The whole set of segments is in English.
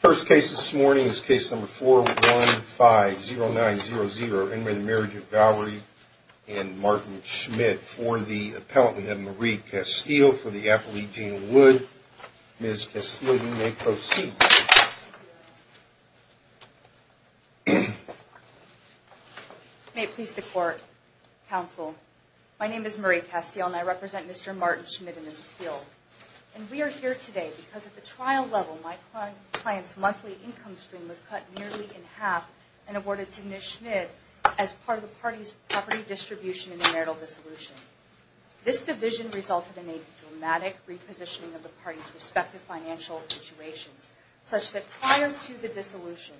First case this morning is case number four one five zero nine zero zero in the marriage of Valerie and Martin Schmidt for the appellate we have Marie Castile for the Appalachian would miss May it please the court Counsel, my name is Marie Castile and I represent. Mr. Martin Schmidt in this field We are here today because at the trial level my client's monthly income stream was cut nearly in half and awarded to Miss Schmidt as part of the party's property distribution in the marital dissolution This division resulted in a dramatic repositioning of the party's respective financial situations such that prior to the dissolution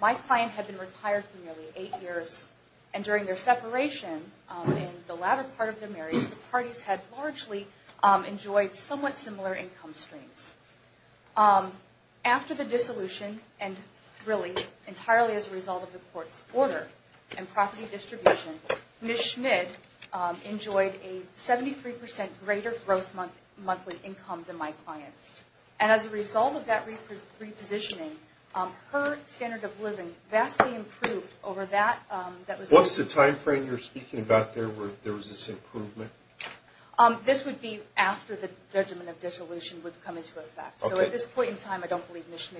My client had been retired for nearly eight years and during their separation The latter part of the marriage the parties had largely enjoyed somewhat similar income streams After the dissolution and really entirely as a result of the court's order and property distribution Miss Schmidt Enjoyed a 73 percent greater gross month monthly income than my client and as a result of that Repositioning her standard of living vastly improved over that that was what's the time frame you're speaking about there? Were there was this improvement? This would be after the judgment of dissolution would come into effect. So at this point in time, I don't believe mission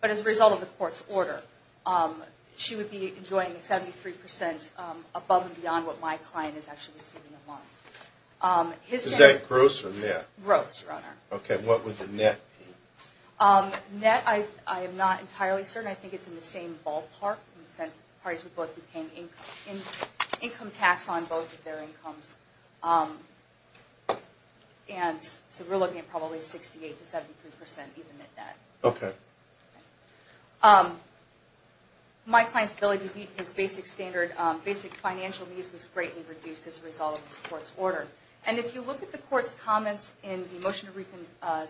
But as a result of the court's order She would be enjoying a 73 percent above and beyond what my client is actually receiving a month Is that gross or net gross runner? Okay, what was the net? Net I I am not entirely certain I think it's in the same ballpark in the sense that the parties would both be paying income in income tax on both of their incomes And so we're looking at probably 68 to 73 percent even at that, okay My client's ability to beat his basic standard basic financial needs was greatly reduced as a result of this court's order and if you look at the court's comments in the motion to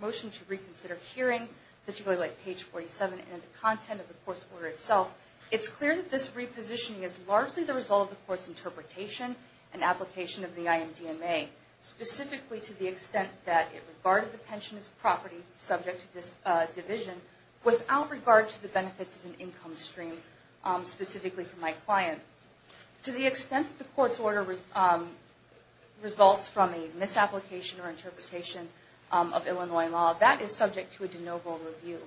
Motion to reconsider hearing that you go to like page 47 and the content of the course order itself It's clear that this repositioning is largely the result of the court's interpretation and application of the IMD ma Specifically to the extent that it regarded the pension as property subject to this division without regard to the benefits as an income stream specifically for my client to the extent that the court's order was Results from a misapplication or interpretation of Illinois law that is subject to a de novo review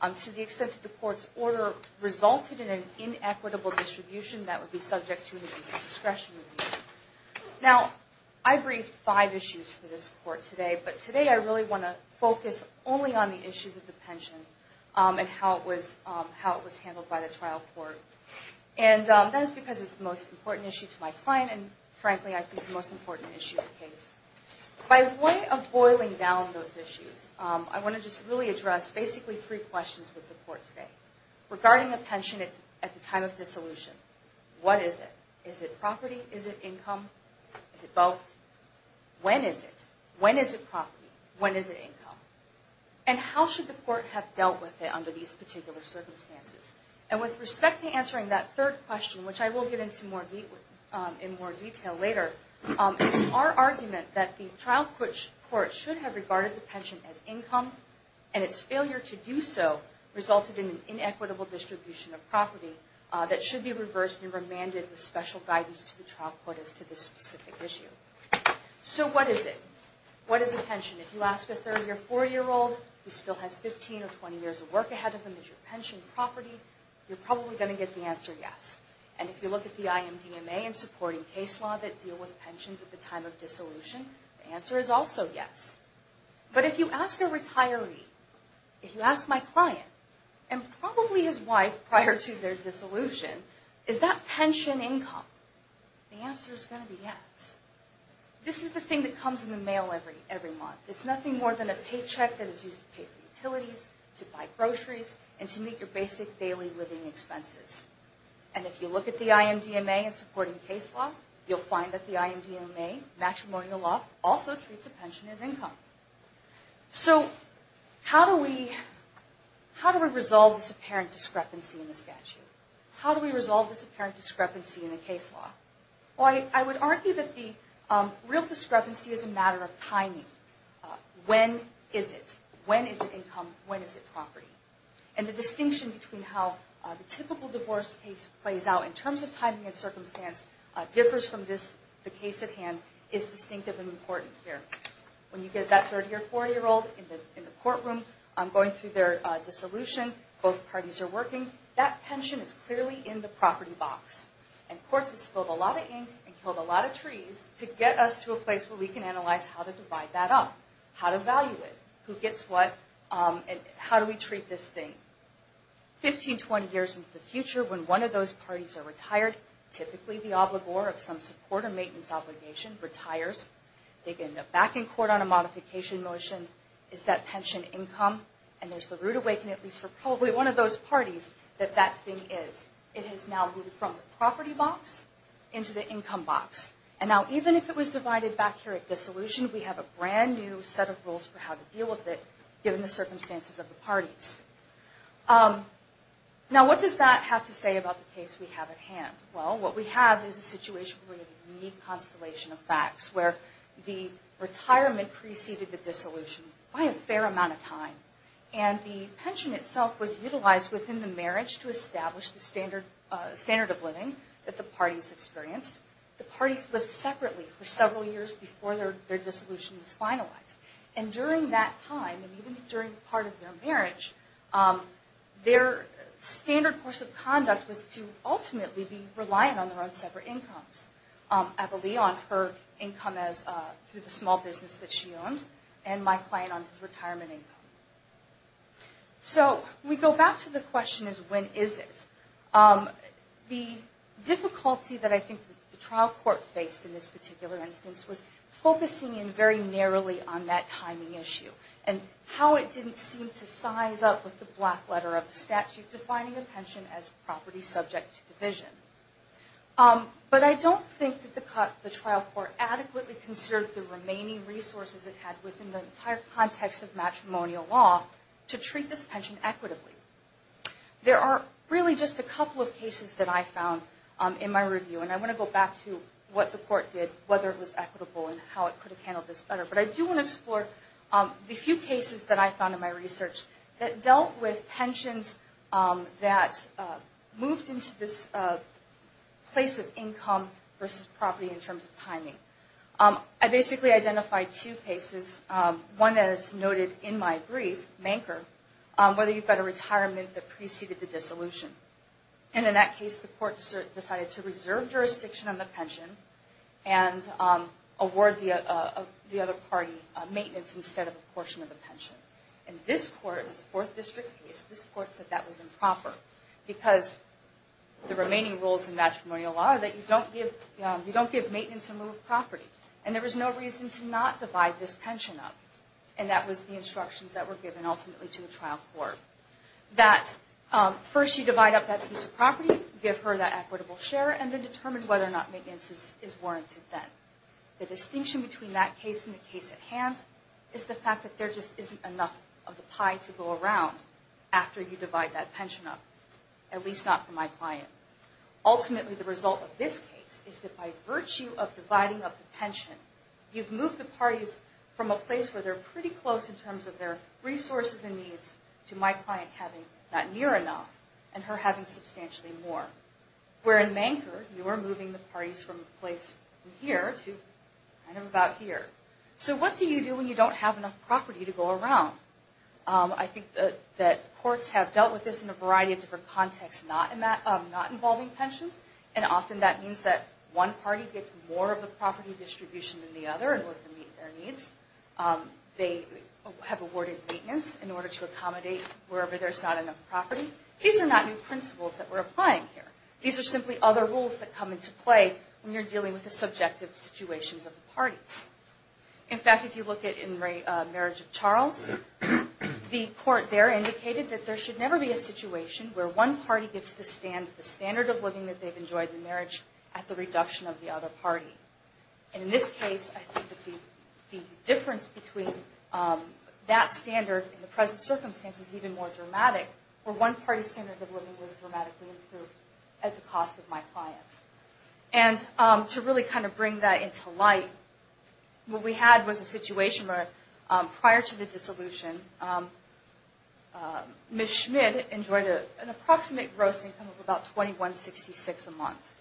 I'm to the extent of the court's order Resulted in an inequitable distribution that would be subject to the discretion Now I briefed five issues for this court today but today I really want to focus only on the issues of the pension and how it was how it was handled by the trial court and That's because it's the most important issue to my client and frankly, I think the most important issue of the case By way of boiling down those issues. I want to just really address basically three questions with the court today Regarding a pension it at the time of dissolution. What is it? Is it property? Is it income? Is it both? When is it? When is it property? When is it income and How should the court have dealt with it under these particular circumstances and with respect to answering that third question Which I will get into more deep in more detail later Our argument that the trial which court should have regarded the pension as income and its failure to do so Resulted in an inequitable distribution of property that should be reversed and remanded with special guidance to the trial court as to this specific issue So, what is it? What is a pension if you ask a 30 or 40 year old who still has 15 or 20 years of work ahead of them? Is your pension property? You're probably going to get the answer Yes And if you look at the IMDMA and supporting case law that deal with pensions at the time of dissolution the answer is also yes but if you ask a retiree if you ask my client and Probably his wife prior to their dissolution. Is that pension income? The answer is going to be yes This is the thing that comes in the mail every every month It's nothing more than a paycheck that is used to pay for utilities to buy groceries and to meet your basic daily living expenses And if you look at the IMDMA and supporting case law, you'll find that the IMDMA matrimonial law also treats a pension as income so How do we? How do we resolve this apparent discrepancy in the statute? How do we resolve this apparent discrepancy in the case law? Well, I would argue that the real discrepancy is a matter of timing When is it when is it income? When is it property and the distinction between how the typical divorce case plays out in terms of timing and circumstance? Differs from this the case at hand is distinctive and important here when you get that third year four-year-old in the courtroom I'm going through their dissolution both parties are working that pension It's clearly in the property box and courts It's filled a lot of ink and killed a lot of trees to get us to a place where we can analyze how to divide That up how to value it who gets what and how do we treat this thing? 15-20 years into the future when one of those parties are retired Typically the obligor of some support or maintenance obligation retires They get in the back in court on a modification motion Is that pension income and there's the rude awaken at least for probably one of those parties that that thing is it has now moved? From the property box into the income box and now even if it was divided back here at dissolution We have a brand new set of rules for how to deal with it given the circumstances of the parties Now what does that have to say about the case we have at hand well what we have is a situation we need constellation of facts where the Retirement preceded the dissolution by a fair amount of time and the pension itself was utilized within the marriage to establish the standard standard of living that the parties experienced the parties live separately for several years before their Dissolution is finalized and during that time and even during part of their marriage their Standard course of conduct was to ultimately be reliant on their own separate incomes Abilene on her income as through the small business that she owns and my client on his retirement income So we go back to the question is when is it? the Difficulty that I think the trial court faced in this particular instance was focusing in very narrowly on that timing issue and How it didn't seem to size up with the black letter of the statute defining a pension as property subject to division Um, but I don't think that the cut the trial court adequately considered the remaining resources It had within the entire context of matrimonial law to treat this pension equitably There are really just a couple of cases that I found In my review and I want to go back to what the court did whether it was equitable and how it could have handled this Better, but I do want to explore the few cases that I found in my research that dealt with pensions that Moved into this Place of income versus property in terms of timing I basically identified two cases one that it's noted in my brief banker whether you've got a retirement that preceded the dissolution and in that case the court decided to reserve jurisdiction on the pension and Award the other party maintenance instead of a portion of the pension and this court was a fourth district case this court said that was improper because The remaining rules in matrimonial law that you don't give you don't give maintenance and move property And there was no reason to not divide this pension up and that was the instructions that were given ultimately to the trial court that First you divide up that piece of property give her that equitable share and then determine whether or not maintenance is warranted Then the distinction between that case in the case at hand is the fact that there just isn't enough of the pie to go around After you divide that pension up at least not for my client Ultimately the result of this case is that by virtue of dividing up the pension You've moved the parties from a place where they're pretty close in terms of their Resources and needs to my client having not near enough and her having substantially more We're in banker. You are moving the parties from place here to kind of about here So what do you do when you don't have enough property to go around? I think that that courts have dealt with this in a variety of different context not in that not involving pensions and Often that means that one party gets more of the property distribution than the other in order to meet their needs They have awarded maintenance in order to accommodate wherever there's not enough property These are not new principles that we're applying here These are simply other rules that come into play when you're dealing with the subjective situations of the parties In fact if you look at in rate marriage of Charles The court there indicated that there should never be a situation Where one party gets to stand the standard of living that they've enjoyed the marriage at the reduction of the other party and in this case the difference between That standard in the present circumstances even more dramatic for one party standard of living was dramatically improved at the cost of my clients and To really kind of bring that into light What we had was a situation where prior to the dissolution Ms. Schmidt enjoyed a an approximate gross income of about 2166 a month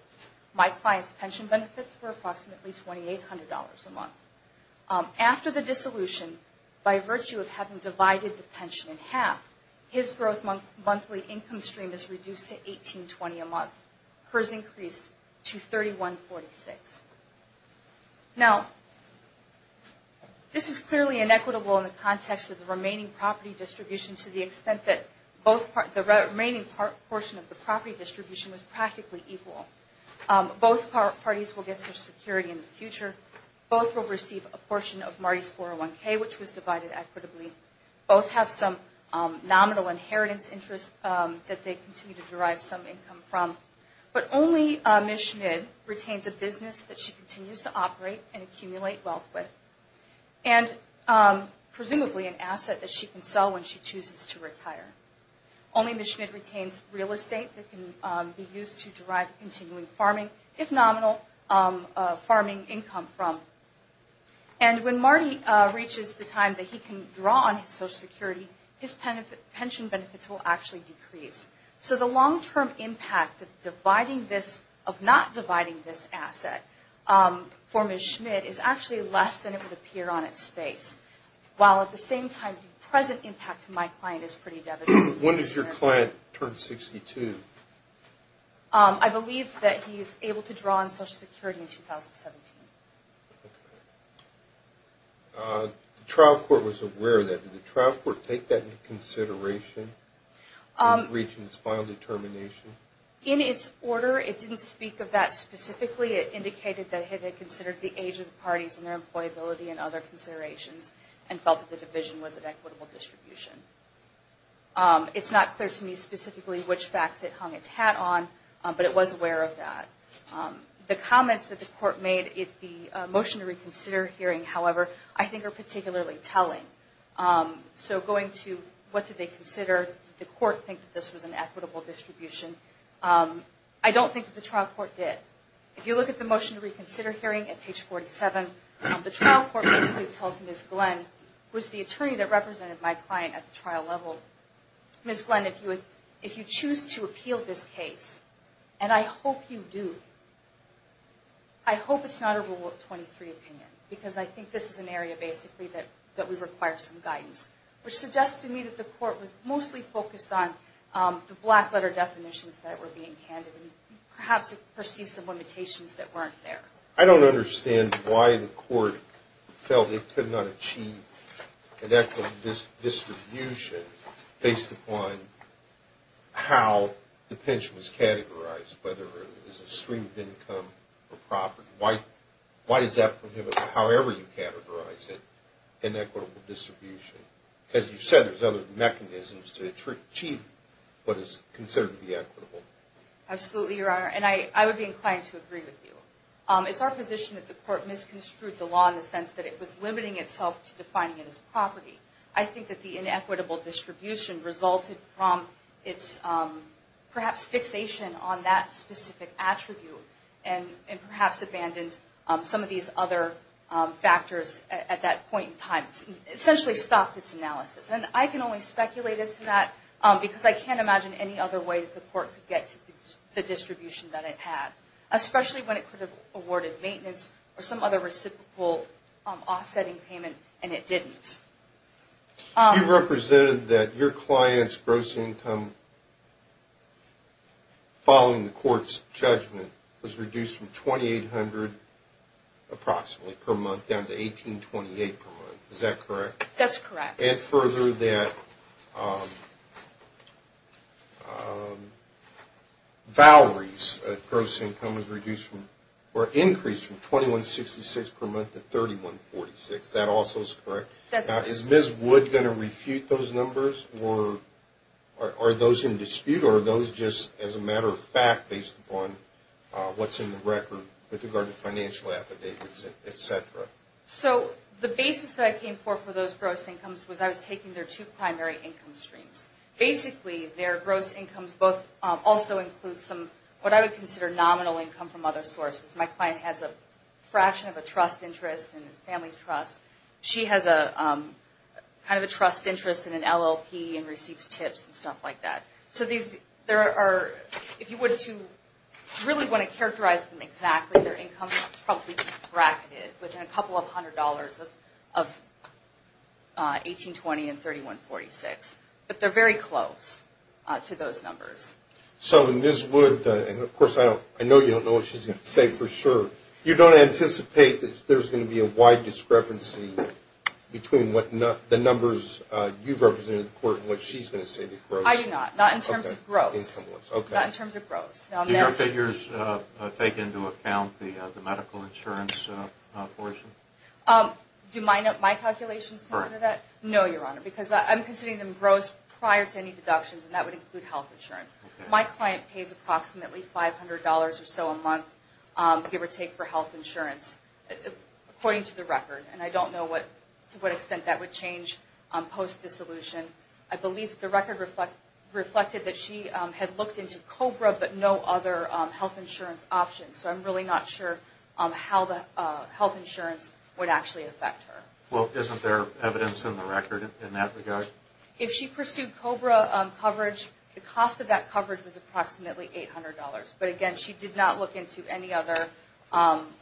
My clients pension benefits were approximately twenty eight hundred dollars a month After the dissolution by virtue of having divided the pension in half his growth month monthly income stream is reduced to 1820 a month hers increased to 3146 Now This is clearly inequitable in the context of the remaining property distribution to the extent that both part the remaining portion of the property distribution was practically equal Both parties will get their security in the future both will receive a portion of Marty's 401k Which was divided equitably both have some nominal inheritance interest that they continue to derive some income from But only Ms. Schmidt retains a business that she continues to operate and accumulate wealth with and Presumably an asset that she can sell when she chooses to retire Only Ms. Schmidt retains real estate that can be used to derive continuing farming if nominal farming income from and When Marty reaches the time that he can draw on his Social Security his pension benefits will actually decrease So the long-term impact of dividing this of not dividing this asset For Ms. Schmidt is actually less than it would appear on its space While at the same time the present impact to my client is pretty devastating. When does your client turn 62? I believe that he's able to draw on Social Security in 2017 The Trial court was aware that the trial court take that into consideration Regions final determination in its order it didn't speak of that specifically it indicated that had they considered the age of the parties and their Employability and other considerations and felt that the division was an equitable distribution It's not clear to me specifically which facts it hung its hat on but it was aware of that The comments that the court made it the motion to reconsider hearing however, I think are particularly telling So going to what did they consider the court think that this was an equitable distribution? I don't think the trial court did if you look at the motion to reconsider hearing at page 47 The trial court basically tells Ms. Glenn who is the attorney that represented my client at the trial level Ms. Glenn if you would if you choose to appeal this case, and I hope you do I Hope it's not a rule of 23 opinion because I think this is an area basically that that we require some guidance Which suggests to me that the court was mostly focused on? The black letter definitions that were being handed and perhaps it perceived some limitations that weren't there I don't understand why the court felt it could not achieve an equity distribution based upon How the pension was categorized whether there's a stream of income or property white Why does that prohibit? However, you categorize it in equitable distribution as you said? There's other mechanisms to achieve what is considered to be equitable Absolutely your honor and I I would be inclined to agree with you It's our position that the court misconstrued the law in the sense that it was limiting itself to defining it as property I think that the inequitable distribution resulted from its Perhaps fixation on that specific attribute and and perhaps abandoned some of these other Factors at that point in time essentially stopped its analysis And I can only speculate as to that because I can't imagine any other way that the court could get to the distribution that it had Especially when it could have awarded maintenance or some other reciprocal offsetting payment and it didn't You represented that your clients gross income Following the court's judgment was reduced from 2,800 Approximately per month down to 1828 per month. Is that correct? That's correct and further that Valories gross income was reduced from or increased from 2166 per month at 3146 that also is correct. That's not is ms. Wood going to refute those numbers or Are those in dispute or those just as a matter of fact based upon? What's in the record with regard to financial affidavits etc? So the basis that I came for for those gross incomes was I was taking their two primary income streams Basically their gross incomes both also includes some what I would consider nominal income from other sources my client has a Family's trust she has a Kind of a trust interest in an LLP and receives tips and stuff like that So these there are if you would to really want to characterize them exactly their income bracketed within a couple of hundred dollars of 1820 and 31 46, but they're very close To those numbers so in this would and of course I don't I know you don't know what she's gonna say for sure You don't anticipate that there's going to be a wide discrepancy Between what not the numbers you've represented the court in which she's going to say that I do not not in terms of gross Okay, in terms of gross now their figures take into account the medical insurance portion Do my note my calculations for that no your honor because I'm considering them gross prior to any deductions And that would include health insurance my client pays approximately five hundred dollars or so a month Give or take for health insurance According to the record, and I don't know what to what extent that would change on post dissolution I believe the record reflect reflected that she had looked into Cobra, but no other health insurance options So I'm really not sure on how the health insurance would actually affect her well Isn't there evidence in the record in that regard if she pursued Cobra? Coverage the cost of that coverage was approximately eight hundred dollars, but again. She did not look into any other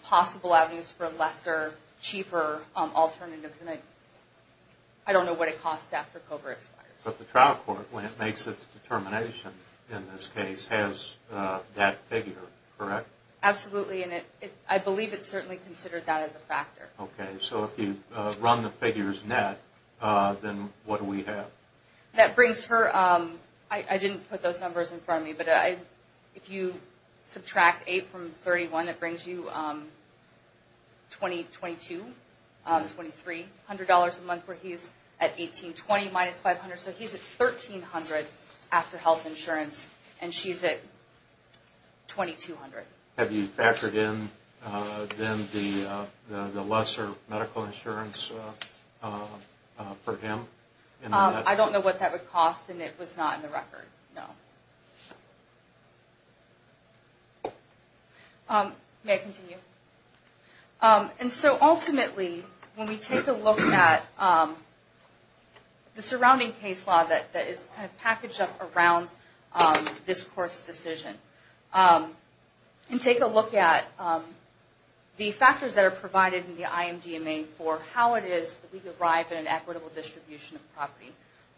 possible avenues for lesser cheaper alternatives and I I Don't know what it costs after Cobra expires, but the trial court when it makes its determination in this case has That figure correct absolutely in it. I believe it's certainly considered that as a factor, okay? So if you run the figures net Then what do we have that brings her? I I didn't put those numbers in front of me, but I if you subtract 8 from 31 that brings you 2022 23 hundred dollars a month where he's at 18 20 minus 500 so he's at 1,300 after health insurance and she's at 2,200 have you factored in then the the lesser medical insurance For him, I don't know what that would cost and it was not in the record. No May I continue and so ultimately when we take a look at The surrounding case law that that is packaged up around this course decision and take a look at The factors that are provided in the IMD a main for how it is that we derive in an equitable distribution of property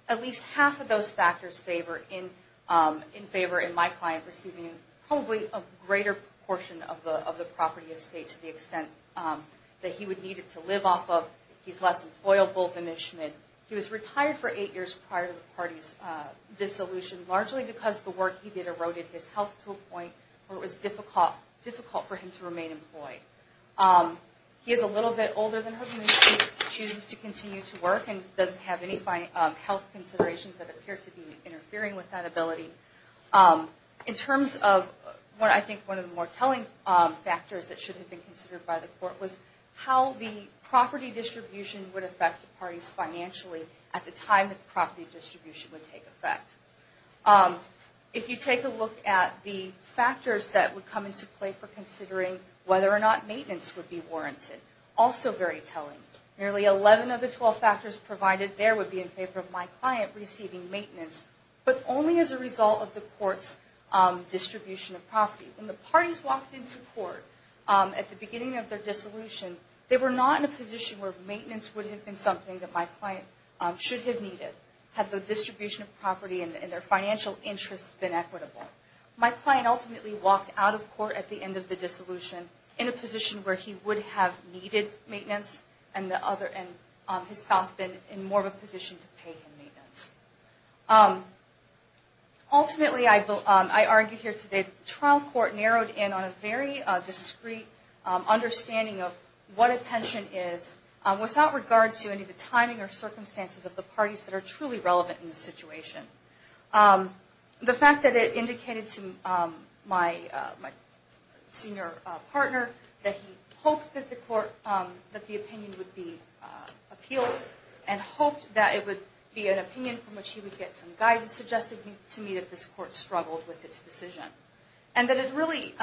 At least half of those factors favor in In favor in my client receiving probably a greater portion of the of the property estate to the extent That he would need it to live off of he's less employable than Ishmael He was retired for eight years prior to the party's Point where it was difficult difficult for him to remain employed He is a little bit older than her Chooses to continue to work and doesn't have any fine health considerations that appear to be interfering with that ability in terms of what I think one of the more telling Factors that should have been considered by the court was how the property distribution would affect the party's Financially at the time that the property distribution would take effect If you take a look at the factors that would come into play for considering whether or not maintenance would be warranted Also, very telling nearly 11 of the 12 factors provided there would be in favor of my client receiving maintenance But only as a result of the courts Distribution of property when the parties walked into court at the beginning of their dissolution They were not in a position where maintenance would have been something that my client Should have needed had the distribution of property and their financial interests been equitable My client ultimately walked out of court at the end of the dissolution in a position where he would have needed Maintenance and the other and his spouse been in more of a position to pay him maintenance Ultimately I will I argue here today trial court narrowed in on a very discreet Understanding of what a pension is Without regard to any of the timing or circumstances of the parties that are truly relevant in the situation the fact that it indicated to my Senior partner that he hoped that the court that the opinion would be Appealed and hoped that it would be an opinion from which he would get some guidance suggested to me that this court struggled with Decision and that it really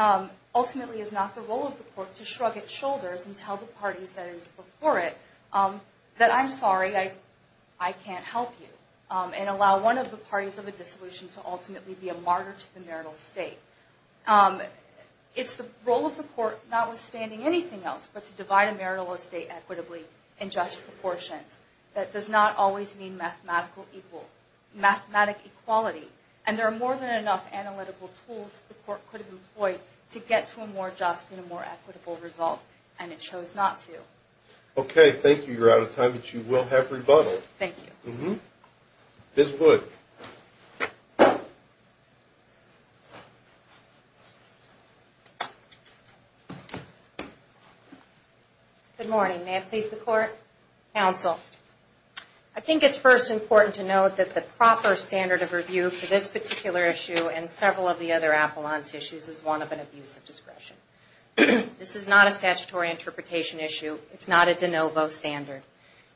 Ultimately is not the role of the court to shrug its shoulders and tell the parties that is before it That I'm sorry. I I can't help you and allow one of the parties of a dissolution to ultimately be a martyr to the marital estate It's the role of the court notwithstanding anything else but to divide a marital estate equitably in just proportions That does not always mean mathematical equal Mathematical equality and there are more than enough analytical tools The court could have employed to get to a more just in a more equitable result, and it shows not to Okay, thank you. You're out of time, but you will have rebuttal. Thank you. Mm-hmm this would I Think it's first important to note that the proper standard of review for this particular issue and several of the other Appellant's issues is one of an abuse of discretion This is not a statutory interpretation issue. It's not a de novo standard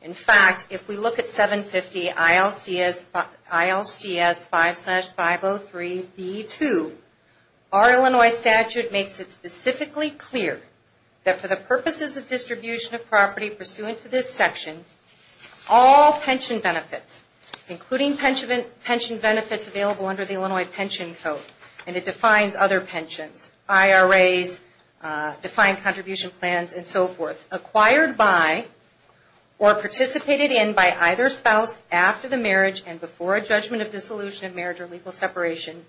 in fact if we look at 750 ILCS ILCS 5 5 0 3 b 2 Our Illinois statute makes it specifically clear that for the purposes of distribution of property pursuant to this section all pension benefits Including pension pension benefits available under the Illinois pension code and it defines other pensions IRAs defined contribution plans and so forth acquired by Or participated in by either spouse after the marriage and before a judgment of dissolution of marriage or legal separation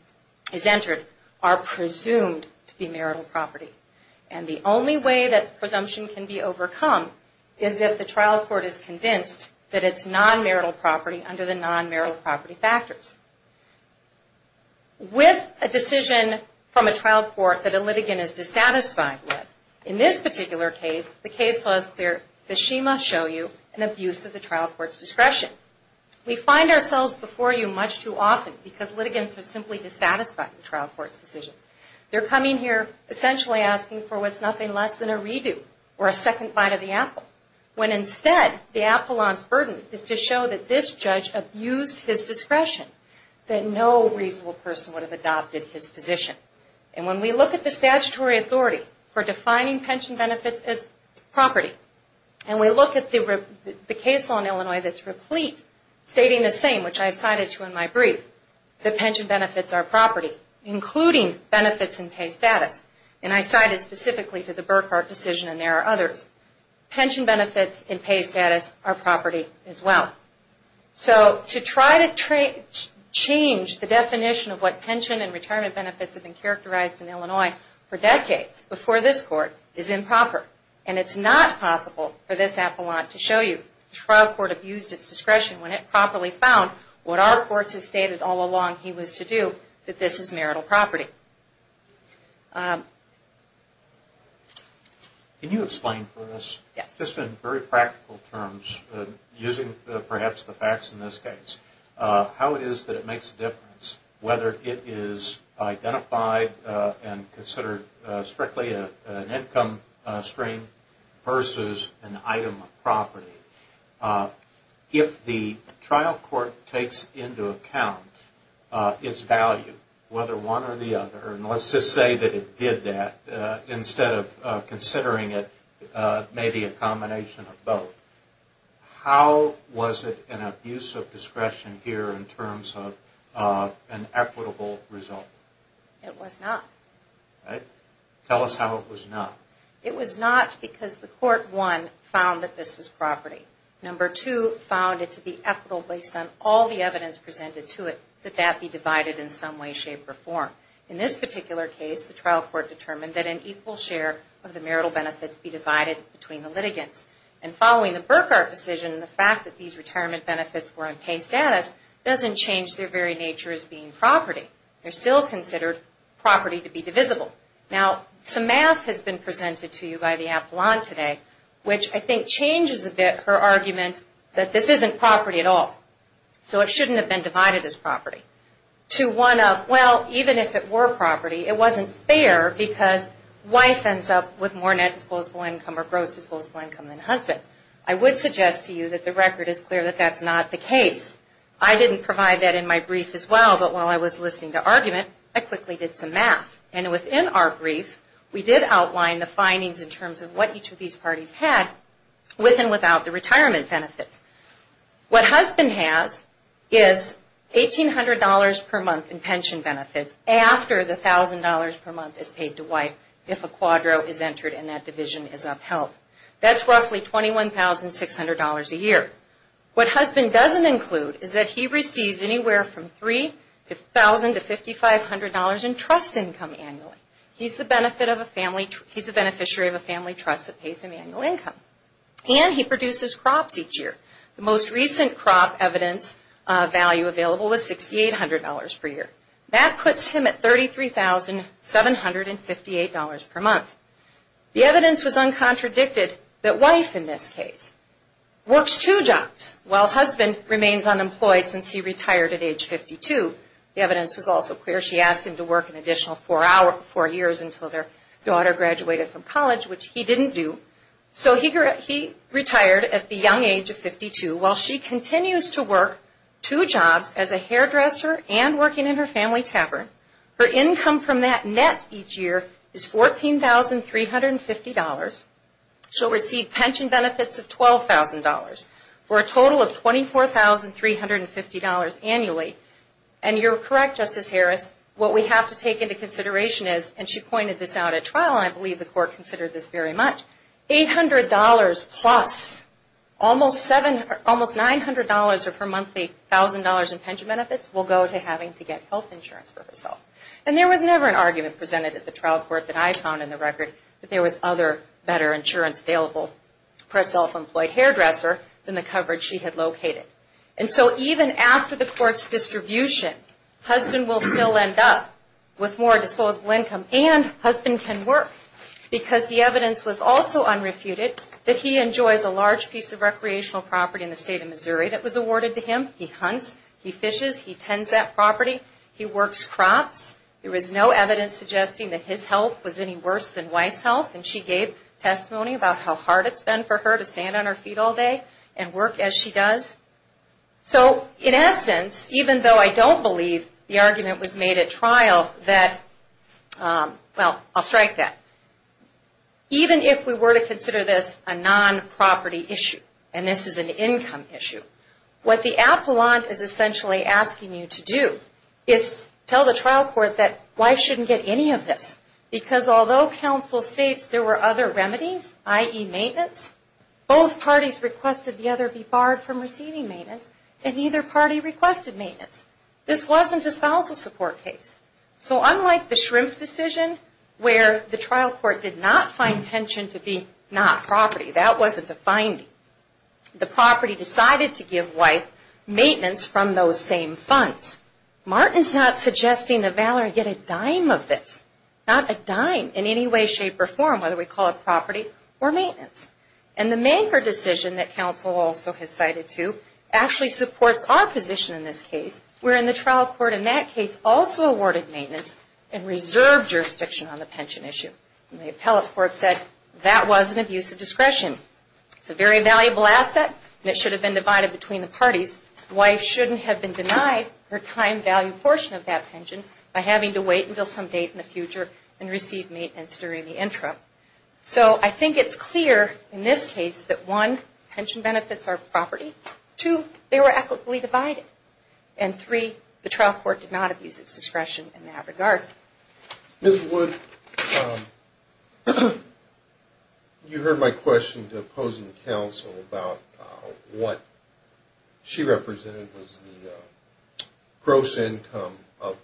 Is entered are presumed to be marital property and the only way that presumption can be overcome Is that the trial court is convinced that it's non marital property under the non marital property factors? With a decision from a trial court that a litigant is dissatisfied with in this particular case the case laws They're the schema show you an abuse of the trial courts discretion We find ourselves before you much too often because litigants are simply dissatisfied the trial courts decisions They're coming here Essentially asking for what's nothing less than a redo or a second bite of the apple When instead the Appellant's burden is to show that this judge abused his discretion that no reasonable person would have adopted his position and when we look at the statutory authority for defining pension benefits as Property and we look at the case law in Illinois that's replete Stating the same which I cited to in my brief the pension benefits are property Including benefits in pay status and I cited specifically to the Burkhart decision and there are others Pension benefits in pay status are property as well so to try to Change the definition of what pension and retirement benefits have been characterized in Illinois for decades before this court is Possible for this Appellant to show you trial court abused its discretion when it properly found What our courts have stated all along he was to do that. This is marital property Can you explain for this just in very practical terms Using perhaps the facts in this case how it is that it makes a difference whether it is identified and considered strictly an income stream versus an item of property If the trial court takes into account Its value whether one or the other and let's just say that it did that Instead of considering it Maybe a combination of both How was it an abuse of discretion here in terms of an equitable result? It was not Tell us how it was not it was not because the court one found that this was property number two Found it to be equitable based on all the evidence presented to it that that be divided in some way shape or form in this particular case the trial court determined that an equal share of the marital benefits be divided between the litigants and Following the Burkhart decision the fact that these retirement benefits were in pay status Doesn't change their very nature as being property They're still considered property to be divisible now some math has been presented to you by the Avalon today Which I think changes a bit her argument that this isn't property at all So it shouldn't have been divided as property to one of well, even if it were property It wasn't fair because wife ends up with more net disposable income or gross disposable income than husband I would suggest to you that the record is clear that that's not the case I didn't provide that in my brief as well, but while I was listening to argument I quickly did some math and within our brief We did outline the findings in terms of what each of these parties had with and without the retirement benefits what husband has is $1,800 per month in pension benefits after the thousand dollars per month is paid to wife if a quadro is entered in that division is Upheld that's roughly twenty one thousand six hundred dollars a year What husband doesn't include is that he receives anywhere from three to thousand to fifty five hundred dollars in trust income annually He's the benefit of a family. He's a beneficiary of a family trust that pays him annual income And he produces crops each year the most recent crop evidence Value available with sixty eight hundred dollars per year that puts him at thirty three thousand seven hundred and fifty eight dollars per month The evidence was uncontradicted that wife in this case Works two jobs while husband remains unemployed since he retired at age 52 the evidence was also clear She asked him to work an additional four hours four years until their daughter graduated from college, which he didn't do So he retired at the young age of 52 while she continues to work Two jobs as a hairdresser and working in her family tavern her income from that net each year is fourteen thousand $350 She'll receive pension benefits of twelve thousand dollars for a total of twenty four thousand three hundred and fifty dollars annually And you're correct justice Harris what we have to take into consideration is and she pointed this out at trial I believe the court considered this very much $800 plus Almost seven almost nine hundred dollars of her monthly thousand dollars in pension benefits will go to having to get health insurance for herself And there was never an argument presented at the trial court that I found in the record that there was other better insurance available For a self-employed hairdresser than the coverage she had located and so even after the court's distribution Husband will still end up with more disposable income and husband can work Because the evidence was also unrefuted that he enjoys a large piece of recreational property in the state of Missouri That was awarded to him. He hunts he fishes he tends that property he works crops There is no evidence suggesting that his health was any worse than wife's health and she gave Testimony about how hard it's been for her to stand on her feet all day and work as she does So in essence even though I don't believe the argument was made at trial that Well, I'll strike that Even if we were to consider this a non property issue And this is an income issue what the appellant is essentially asking you to do Tell the trial court that wife shouldn't get any of this because although counsel states there were other remedies ie maintenance Both parties requested the other be barred from receiving maintenance and neither party requested maintenance This wasn't a spousal support case So unlike the shrimp decision where the trial court did not find pension to be not property that wasn't a finding The property decided to give wife maintenance from those same funds Martin's not suggesting the Valor get a dime of this not a dime in any way shape or form whether we call it property or maintenance and The maker decision that counsel also has cited to actually supports our position in this case We're in the trial court in that case also awarded maintenance and reserve Jurisdiction on the pension issue the appellate court said that wasn't abuse of discretion It's a very valuable asset that should have been divided between the parties wife shouldn't have been denied Her time value portion of that pension by having to wait until some date in the future and receive maintenance during the interim So I think it's clear in this case that one pension benefits are property to they were equitably divided and Three the trial court did not abuse its discretion in that regard this would You heard my question to opposing counsel about what she represented was gross income of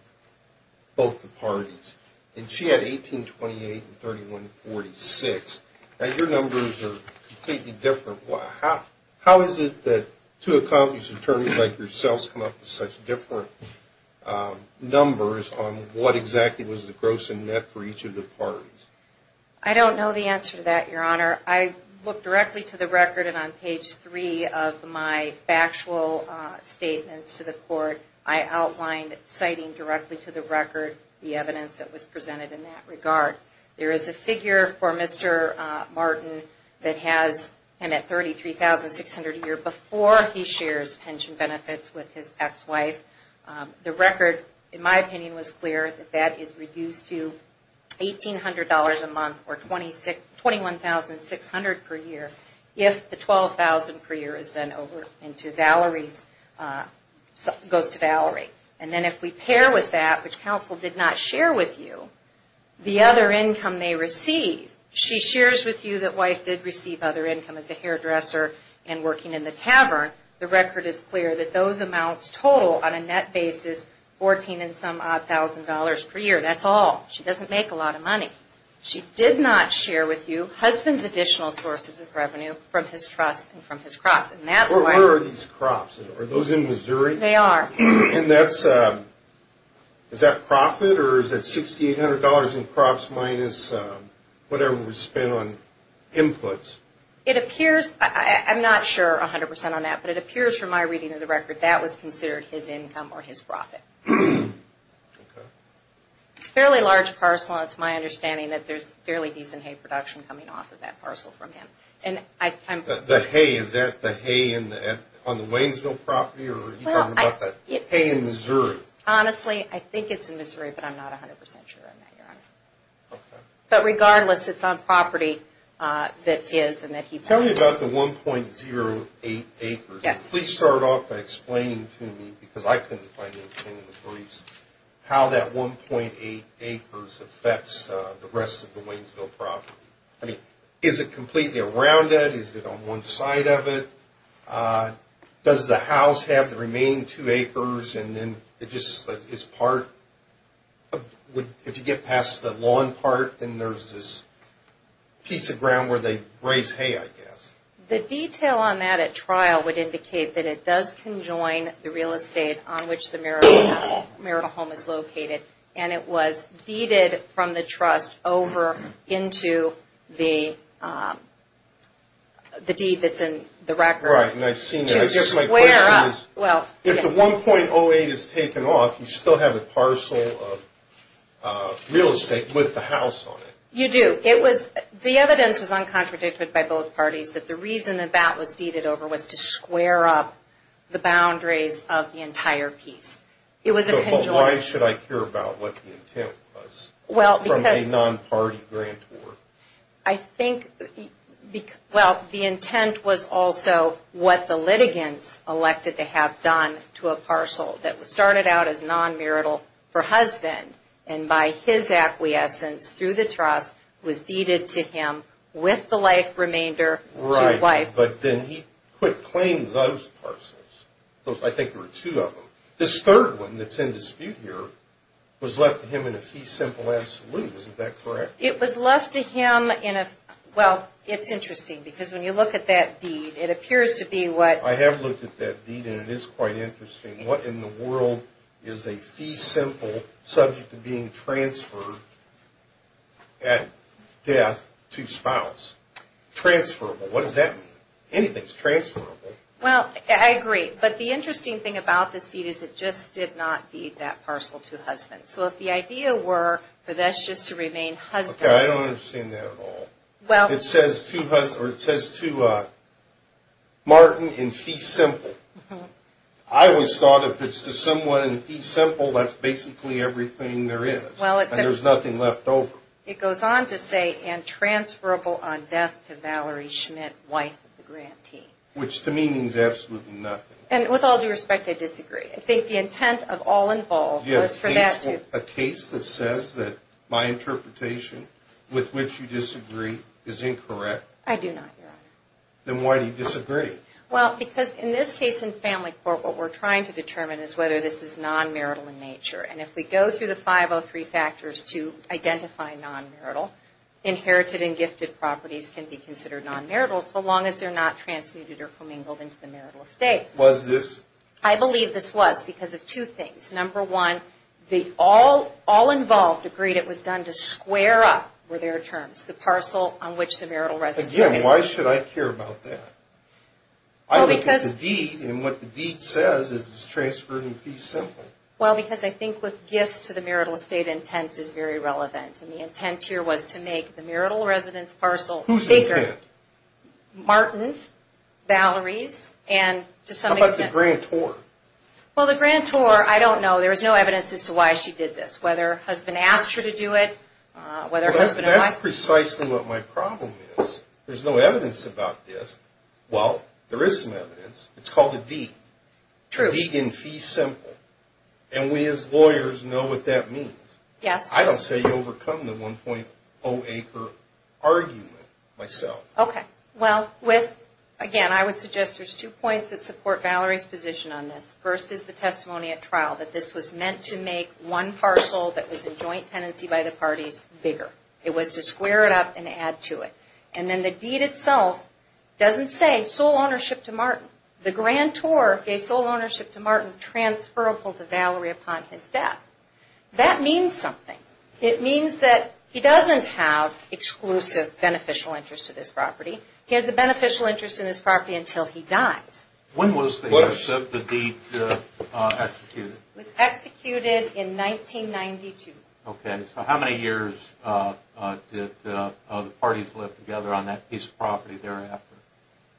Both the parties and she had 1828 and 31 46 and your numbers are completely different Wow, how is it that to accomplish attorneys like yourselves come up with such different? Numbers on what exactly was the gross and net for each of the parties? I don't know the answer to that your honor I looked directly to the record and on page three of my factual Statements to the court. I outlined citing directly to the record the evidence that was presented in that regard There is a figure for mr Martin that has and at thirty three thousand six hundred a year before he shares pension benefits with his ex-wife The record in my opinion was clear that that is reduced to $1,800 a month or twenty six twenty one thousand six hundred per year if the twelve thousand per year is then over into Valerie's Goes to Valerie and then if we pair with that which counsel did not share with you the other income they receive She shares with you that wife did receive other income as a hairdresser and working in the tavern The record is clear that those amounts total on a net basis Fourteen and some odd thousand dollars per year. That's all she doesn't make a lot of money She did not share with you husband's additional sources of revenue from his trust and from his cross Where are these crops are those in Missouri? They are and that's Is that profit or is that sixty eight hundred dollars in crops minus? Whatever was spent on Inputs it appears. I'm not sure a hundred percent on that, but it appears from my reading of the record That was considered his income or his profit It's fairly large parcel It's my understanding that there's fairly decent hay production coming off of that parcel from him The hay is that the hay in the end on the Waynesville property or Hay in Missouri, honestly, I think it's in Missouri, but I'm not a hundred percent sure But regardless it's on property That's is and that he tell me about the one point zero eight acres. Yes, please start off by explaining to me because I couldn't How that one point eight acres affects the rest of the Waynesville property I mean is it completely around it is it on one side of it? Does the house have the remaining two acres and then it just is part? would if you get past the lawn part and there's this Piece of ground where they raise hay I guess the detail on that at trial would indicate that it does conjoin the real estate on which the Marital home is located and it was deeded from the trust over into the The deed that's in the record Well, if the 1.08 is taken off you still have a parcel of Real estate with the house on it you do it was the evidence was Uncontradicted by both parties that the reason that that was deeded over was to square up the boundaries of the entire piece It was why should I care about what the intent was? Well from a non-party grant or I think? Well, the intent was also what the litigants elected to have done to a parcel that was started out as non-marital For husband and by his acquiescence through the trust was deeded to him with the life remainder But then he quit playing those parcels those I think there were two of them this third one that's in dispute here Was left to him in a fee simple absolute isn't that correct? It was left to him in a well It's interesting because when you look at that deed it appears to be what I have looked at that deed And it is quite interesting what in the world is a fee simple subject to being transferred at death to spouse Transferable what does that mean anything's transferable well? I agree, but the interesting thing about this deed is it just did not be that parcel to husband So if the idea were for this just to remain husband. I don't understand that at all well. It says to us or it says to Martin in fee simple I Was thought if it's to someone in fee simple. That's basically everything there is well There's nothing left over it goes on to say and transferable on death to Valerie Schmidt wife the grantee Which to me means absolutely nothing and with all due respect I disagree I think the intent of all involved yes for that to a case that says that my Interpretation with which you disagree is incorrect. I do not Then why do you disagree? Well because in this case in family court what we're trying to determine is whether this is non marital in nature And if we go through the 503 factors to identify non marital Inherited and gifted properties can be considered non marital so long as they're not transmuted or commingled into the marital estate was this I? Believe this was because of two things number one the all all involved agreed It was done to square up where their terms the parcel on which the marital resident. Yeah, why should I care about that? I think that's the deed and what the deed says is it's transferred in fee simple well because I think with gifts to the marital estate Intent is very relevant and the intent here was to make the marital residence parcel who's bigger Martin's Valerie's and to some of the grant or well the grant or I don't know there was no evidence as to why she did this Whether has been asked her to do it Whether that's precisely what my problem is there's no evidence about this well There is some evidence. It's called a deed True vegan fee simple and we as lawyers know what that means yes I don't say you overcome the 1.0 a per argument myself Okay, well with again I would suggest there's two points that support Valerie's position on this first is the testimony at trial that this was meant to make one Parcel that was a joint tenancy by the parties bigger It was to square it up and add to it and then the deed itself Doesn't say sole ownership to Martin the grant or a sole ownership to Martin transferable to Valerie upon his death That means something it means that he doesn't have Exclusive beneficial interest to this property. He has a beneficial interest in this property until he dies when was the worse of the deed Executed in 1992 okay, so how many years? Did the parties live together on that piece of property thereafter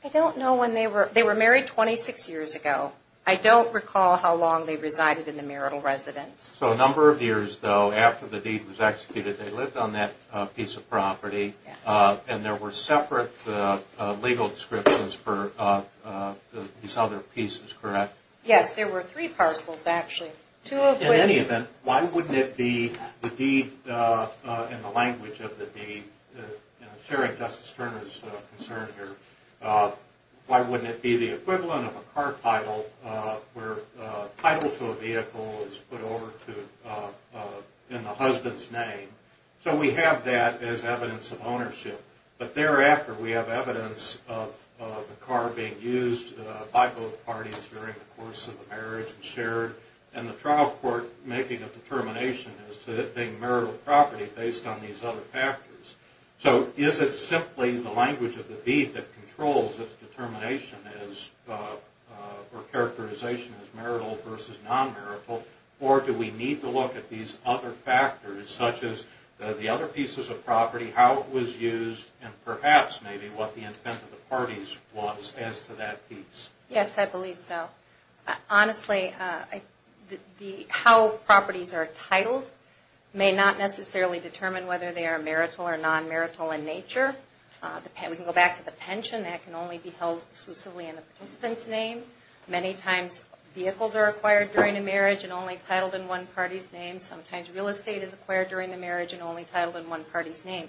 I don't know when they were they were married 26 years ago I don't recall how long they resided in the marital residence so a number of years though after the deed was executed They lived on that piece of property and there were separate legal descriptions for These other pieces correct. Yes, there were three parcels actually to any event. Why wouldn't it be the deed? in the language of the sharing Justice Turner's concern here Why wouldn't it be the equivalent of a car title where title to a vehicle is put over to? in the husband's name So we have that as evidence of ownership, but thereafter we have evidence of the car being used by both parties during the course of the marriage and shared and the trial court making a Determination as to that being marital property based on these other factors So is it simply the language of the deed that controls its determination as? or characterization as marital versus non-marital Or do we need to look at these other? factors such as The other pieces of property how it was used and perhaps maybe what the intent of the parties was as to that piece Yes, I believe so honestly The how properties are titled may not necessarily determine whether they are marital or non-marital in nature The pen we can go back to the pension that can only be held exclusively in the participants name many times Vehicles are acquired during a marriage and only titled in one party's name Sometimes real estate is acquired during the marriage and only titled in one party's name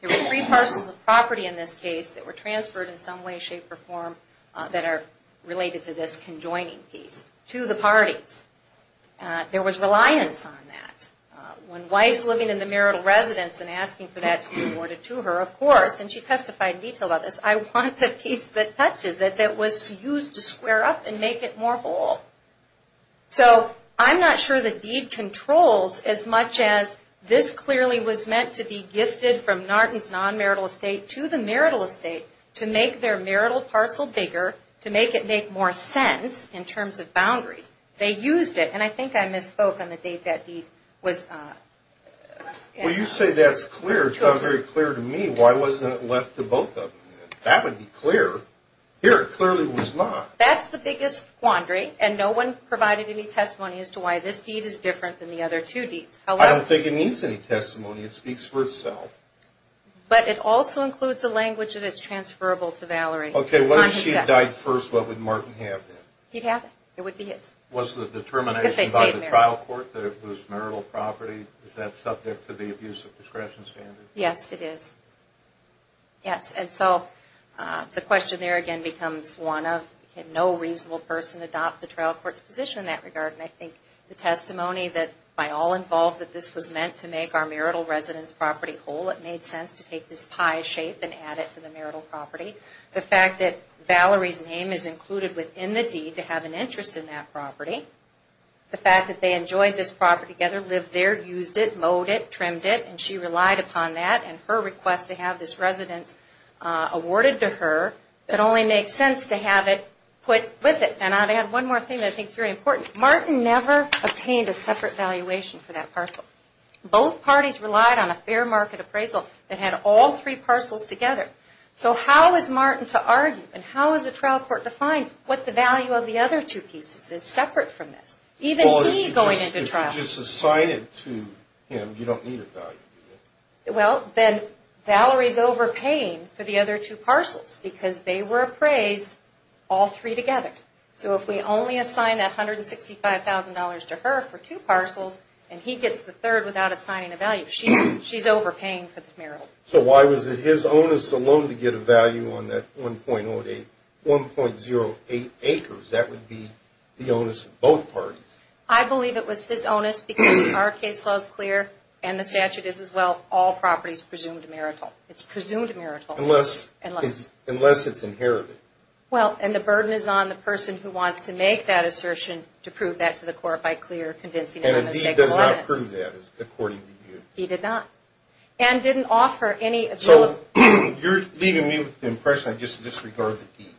There were three parcels of property in this case that were transferred in some way shape or form That are related to this conjoining piece to the parties There was reliance on that When wife's living in the marital residence and asking for that to be awarded to her of course and she testified in detail about this I want the piece that touches that that was used to square up and make it more whole So I'm not sure that deed controls as much as this clearly was meant to be gifted from Norton's Non-marital estate to the marital estate to make their marital parcel bigger to make it make more sense in terms of boundaries They used it and I think I misspoke on the date that deed was Will you say that's clear to a very clear to me? Why wasn't it left to both of them that would be clear here clearly was not that's the biggest Quandary and no one provided any testimony as to why this deed is different than the other two deeds I don't think it needs any testimony. It speaks for itself But it also includes a language that it's transferable to Valerie, okay, well she died first What would Martin have he'd have it would be it was the determination by the trial court that it was marital property? Is that subject to the abuse of discretion standard? Yes, it is Yes, and so The question there again becomes one of can no reasonable person adopt the trial courts position in that regard The testimony that by all involved that this was meant to make our marital residence property whole it made sense to take this pie shape And add it to the marital property the fact that Valerie's name is included within the deed to have an interest in that property The fact that they enjoyed this property together lived there used it mowed it trimmed it and she relied upon that and her request to Have this residence Awarded to her that only makes sense to have it put with it And I'd add one more thing. I think it's very important Martin never obtained a separate valuation for that parcel Both parties relied on a fair market appraisal that had all three parcels together So how is Martin to argue and how is the trial court to find what the value of the other two pieces is separate from? This even going into trial just assigned it to him. You don't need it Well, then Valerie's overpaying for the other two parcels because they were appraised all three together So if we only assign that hundred and sixty five thousand dollars to her for two parcels And he gets the third without assigning a value. She's she's overpaying for the marital So why was it his onus alone to get a value on that one point or eight one point zero eight acres? That would be the onus of both parties I believe it was his onus because our case laws clear and the statute is as well all properties presumed marital It's presumed marital unless and unless it's inherited Well, and the burden is on the person who wants to make that assertion to prove that to the court by clear convincing He did not and didn't offer any so you're leaving me with the impression I just disregard the deed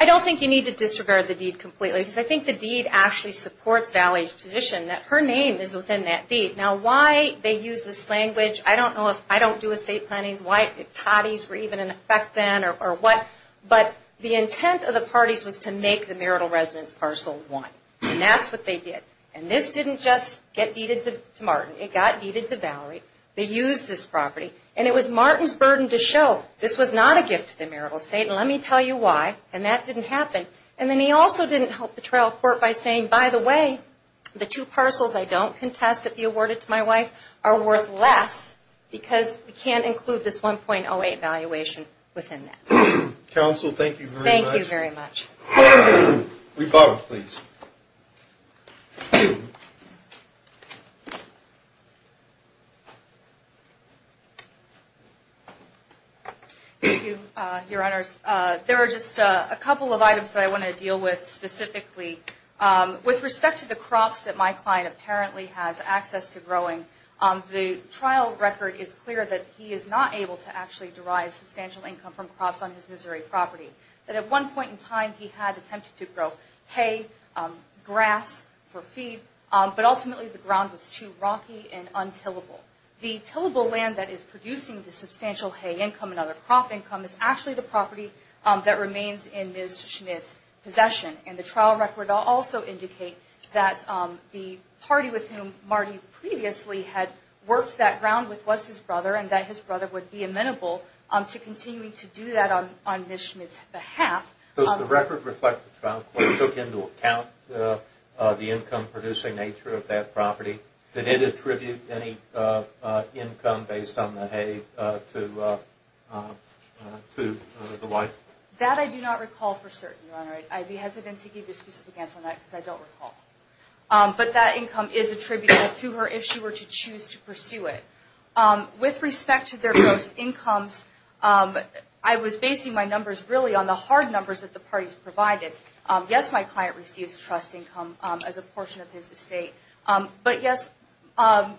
I Don't think you need to disregard the deed completely because I think the deed actually Supports Valley's position that her name is within that deed now why they use this language I don't know if I don't do estate plannings white if toddies were even in effect then or what? But the intent of the parties was to make the marital residence parcel one That's what they did and this didn't just get deeded to Martin. It got deeded to Valerie They use this property and it was Martin's burden to show this was not a gift to the marital estate Let me tell you why and that didn't happen And then he also didn't help the trial court by saying by the way the two parcels I don't contest that be awarded to my wife are worth less because we can't include this 1.08 valuation within Counsel, thank you. Thank you very much We both please Your honors there are just a couple of items that I want to deal with specifically With respect to the crops that my client apparently has access to growing on the trial record is clear that he is not able To actually derive substantial income from crops on his Missouri property that at one point in time. He had attempted to grow hay grass for feed But ultimately the ground was too rocky and untillable The tillable land that is producing the substantial hay income another crop income is actually the property that remains in this Possession and the trial record also indicate that The party with whom Marty previously had worked that ground with was his brother and that his brother would be amenable I'm to continuing to do that on on mission. It's a half of the record reflect the trial court took into account the income producing nature of that property that it attribute any income based on the hay to To the wife that I do not recall for certain. I'd be hesitant to give you a specific answer on that because I don't recall But that income is attributed to her if she were to choose to pursue it With respect to their gross incomes But I was basing my numbers really on the hard numbers that the parties provided Yes, my client receives trust income as a portion of his estate but yes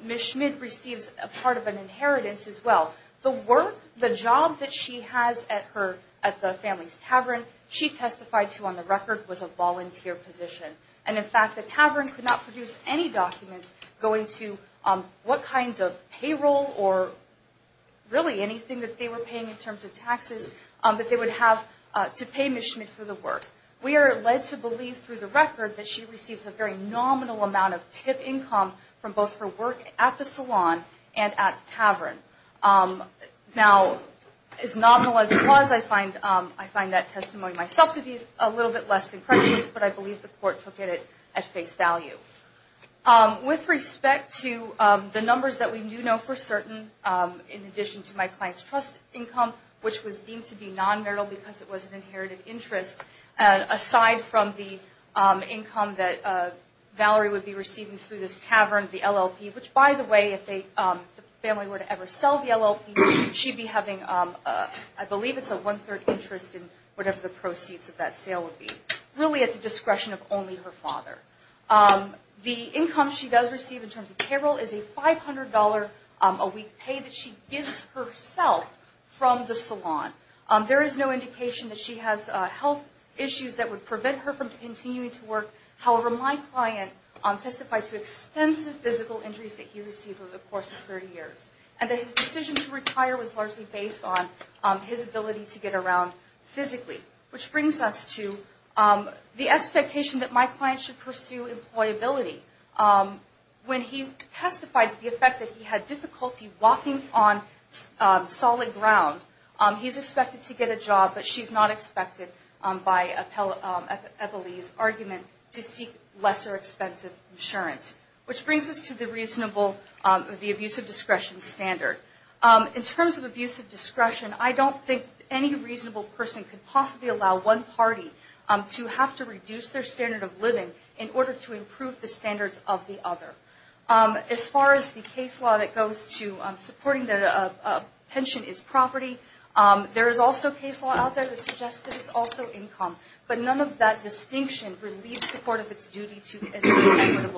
Miss Schmidt receives a part of an inheritance as well the work The job that she has at her at the family's tavern She testified to on the record was a volunteer position and in fact the tavern could not produce any documents going to what kinds of payroll or Really anything that they were paying in terms of taxes that they would have to pay mission for the work We are led to believe through the record that she receives a very nominal amount of tip income From both her work at the salon and at tavern Now as nominal as it was I find I find that testimony myself to be a little bit less than precious But I believe the court took it at face value With respect to the numbers that we do know for certain in addition to my clients trust income which was deemed to be non-marital because it was an inherited interest and aside from the income that Valerie would be receiving through this tavern the LLP which by the way if they Family were to ever sell the LLP she'd be having I believe it's a one-third interest in whatever the proceeds of that sale would be really at the discretion of only her father The income she does receive in terms of payroll is a $500 a week pay that she gives herself From the salon there is no indication that she has health issues that would prevent her from continuing to work however my client Testified to extensive physical injuries that he received over the course of 30 years and that his decision to retire was largely based on His ability to get around physically which brings us to The expectation that my client should pursue employability When he testified to the effect that he had difficulty walking on Solid ground he's expected to get a job, but she's not expected by a Epilepsy argument to seek lesser expensive insurance Which brings us to the reasonable the abuse of discretion standard in terms of abuse of discretion? I don't think any reasonable person could possibly allow one party To have to reduce their standard of living in order to improve the standards of the other as far as the case law that goes to supporting the Pension is property There is also case law out there that suggests that it's also income, but none of that distinction relieves the court of its duty to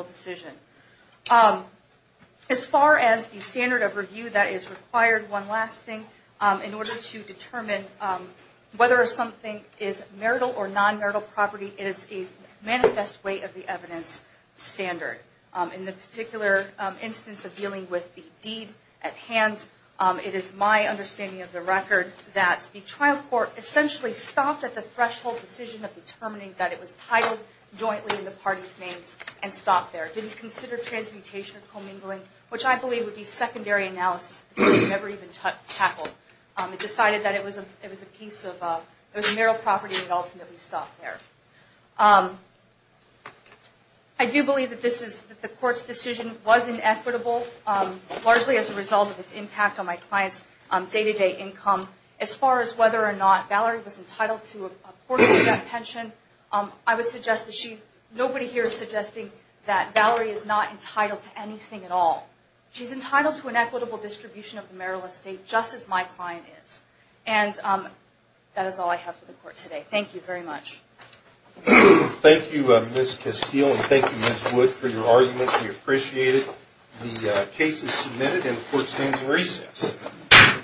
As far as the standard of review that is required one last thing in order to determine Whether something is marital or non-marital property is a manifest way of the evidence Standard in the particular instance of dealing with the deed at hands It is my understanding of the record that the trial court essentially stopped at the threshold decision of determining that it was titled Jointly in the party's names and stopped there didn't consider transmutation of commingling which I believe would be secondary analysis It decided that it was a it was a piece of those marital property and ultimately stopped there I Do believe that this is the court's decision wasn't equitable Largely as a result of its impact on my clients on day-to-day income as far as whether or not Valerie was entitled to a Pension I would suggest that she's nobody here is suggesting that Valerie is not entitled to anything at all she's entitled to an equitable distribution of the marital estate just as my client is and That is all I have for the court today. Thank you very much Thank you, miss Castillo. Thank you miss wood for your argument. We appreciate it case is submitted and the court stands recess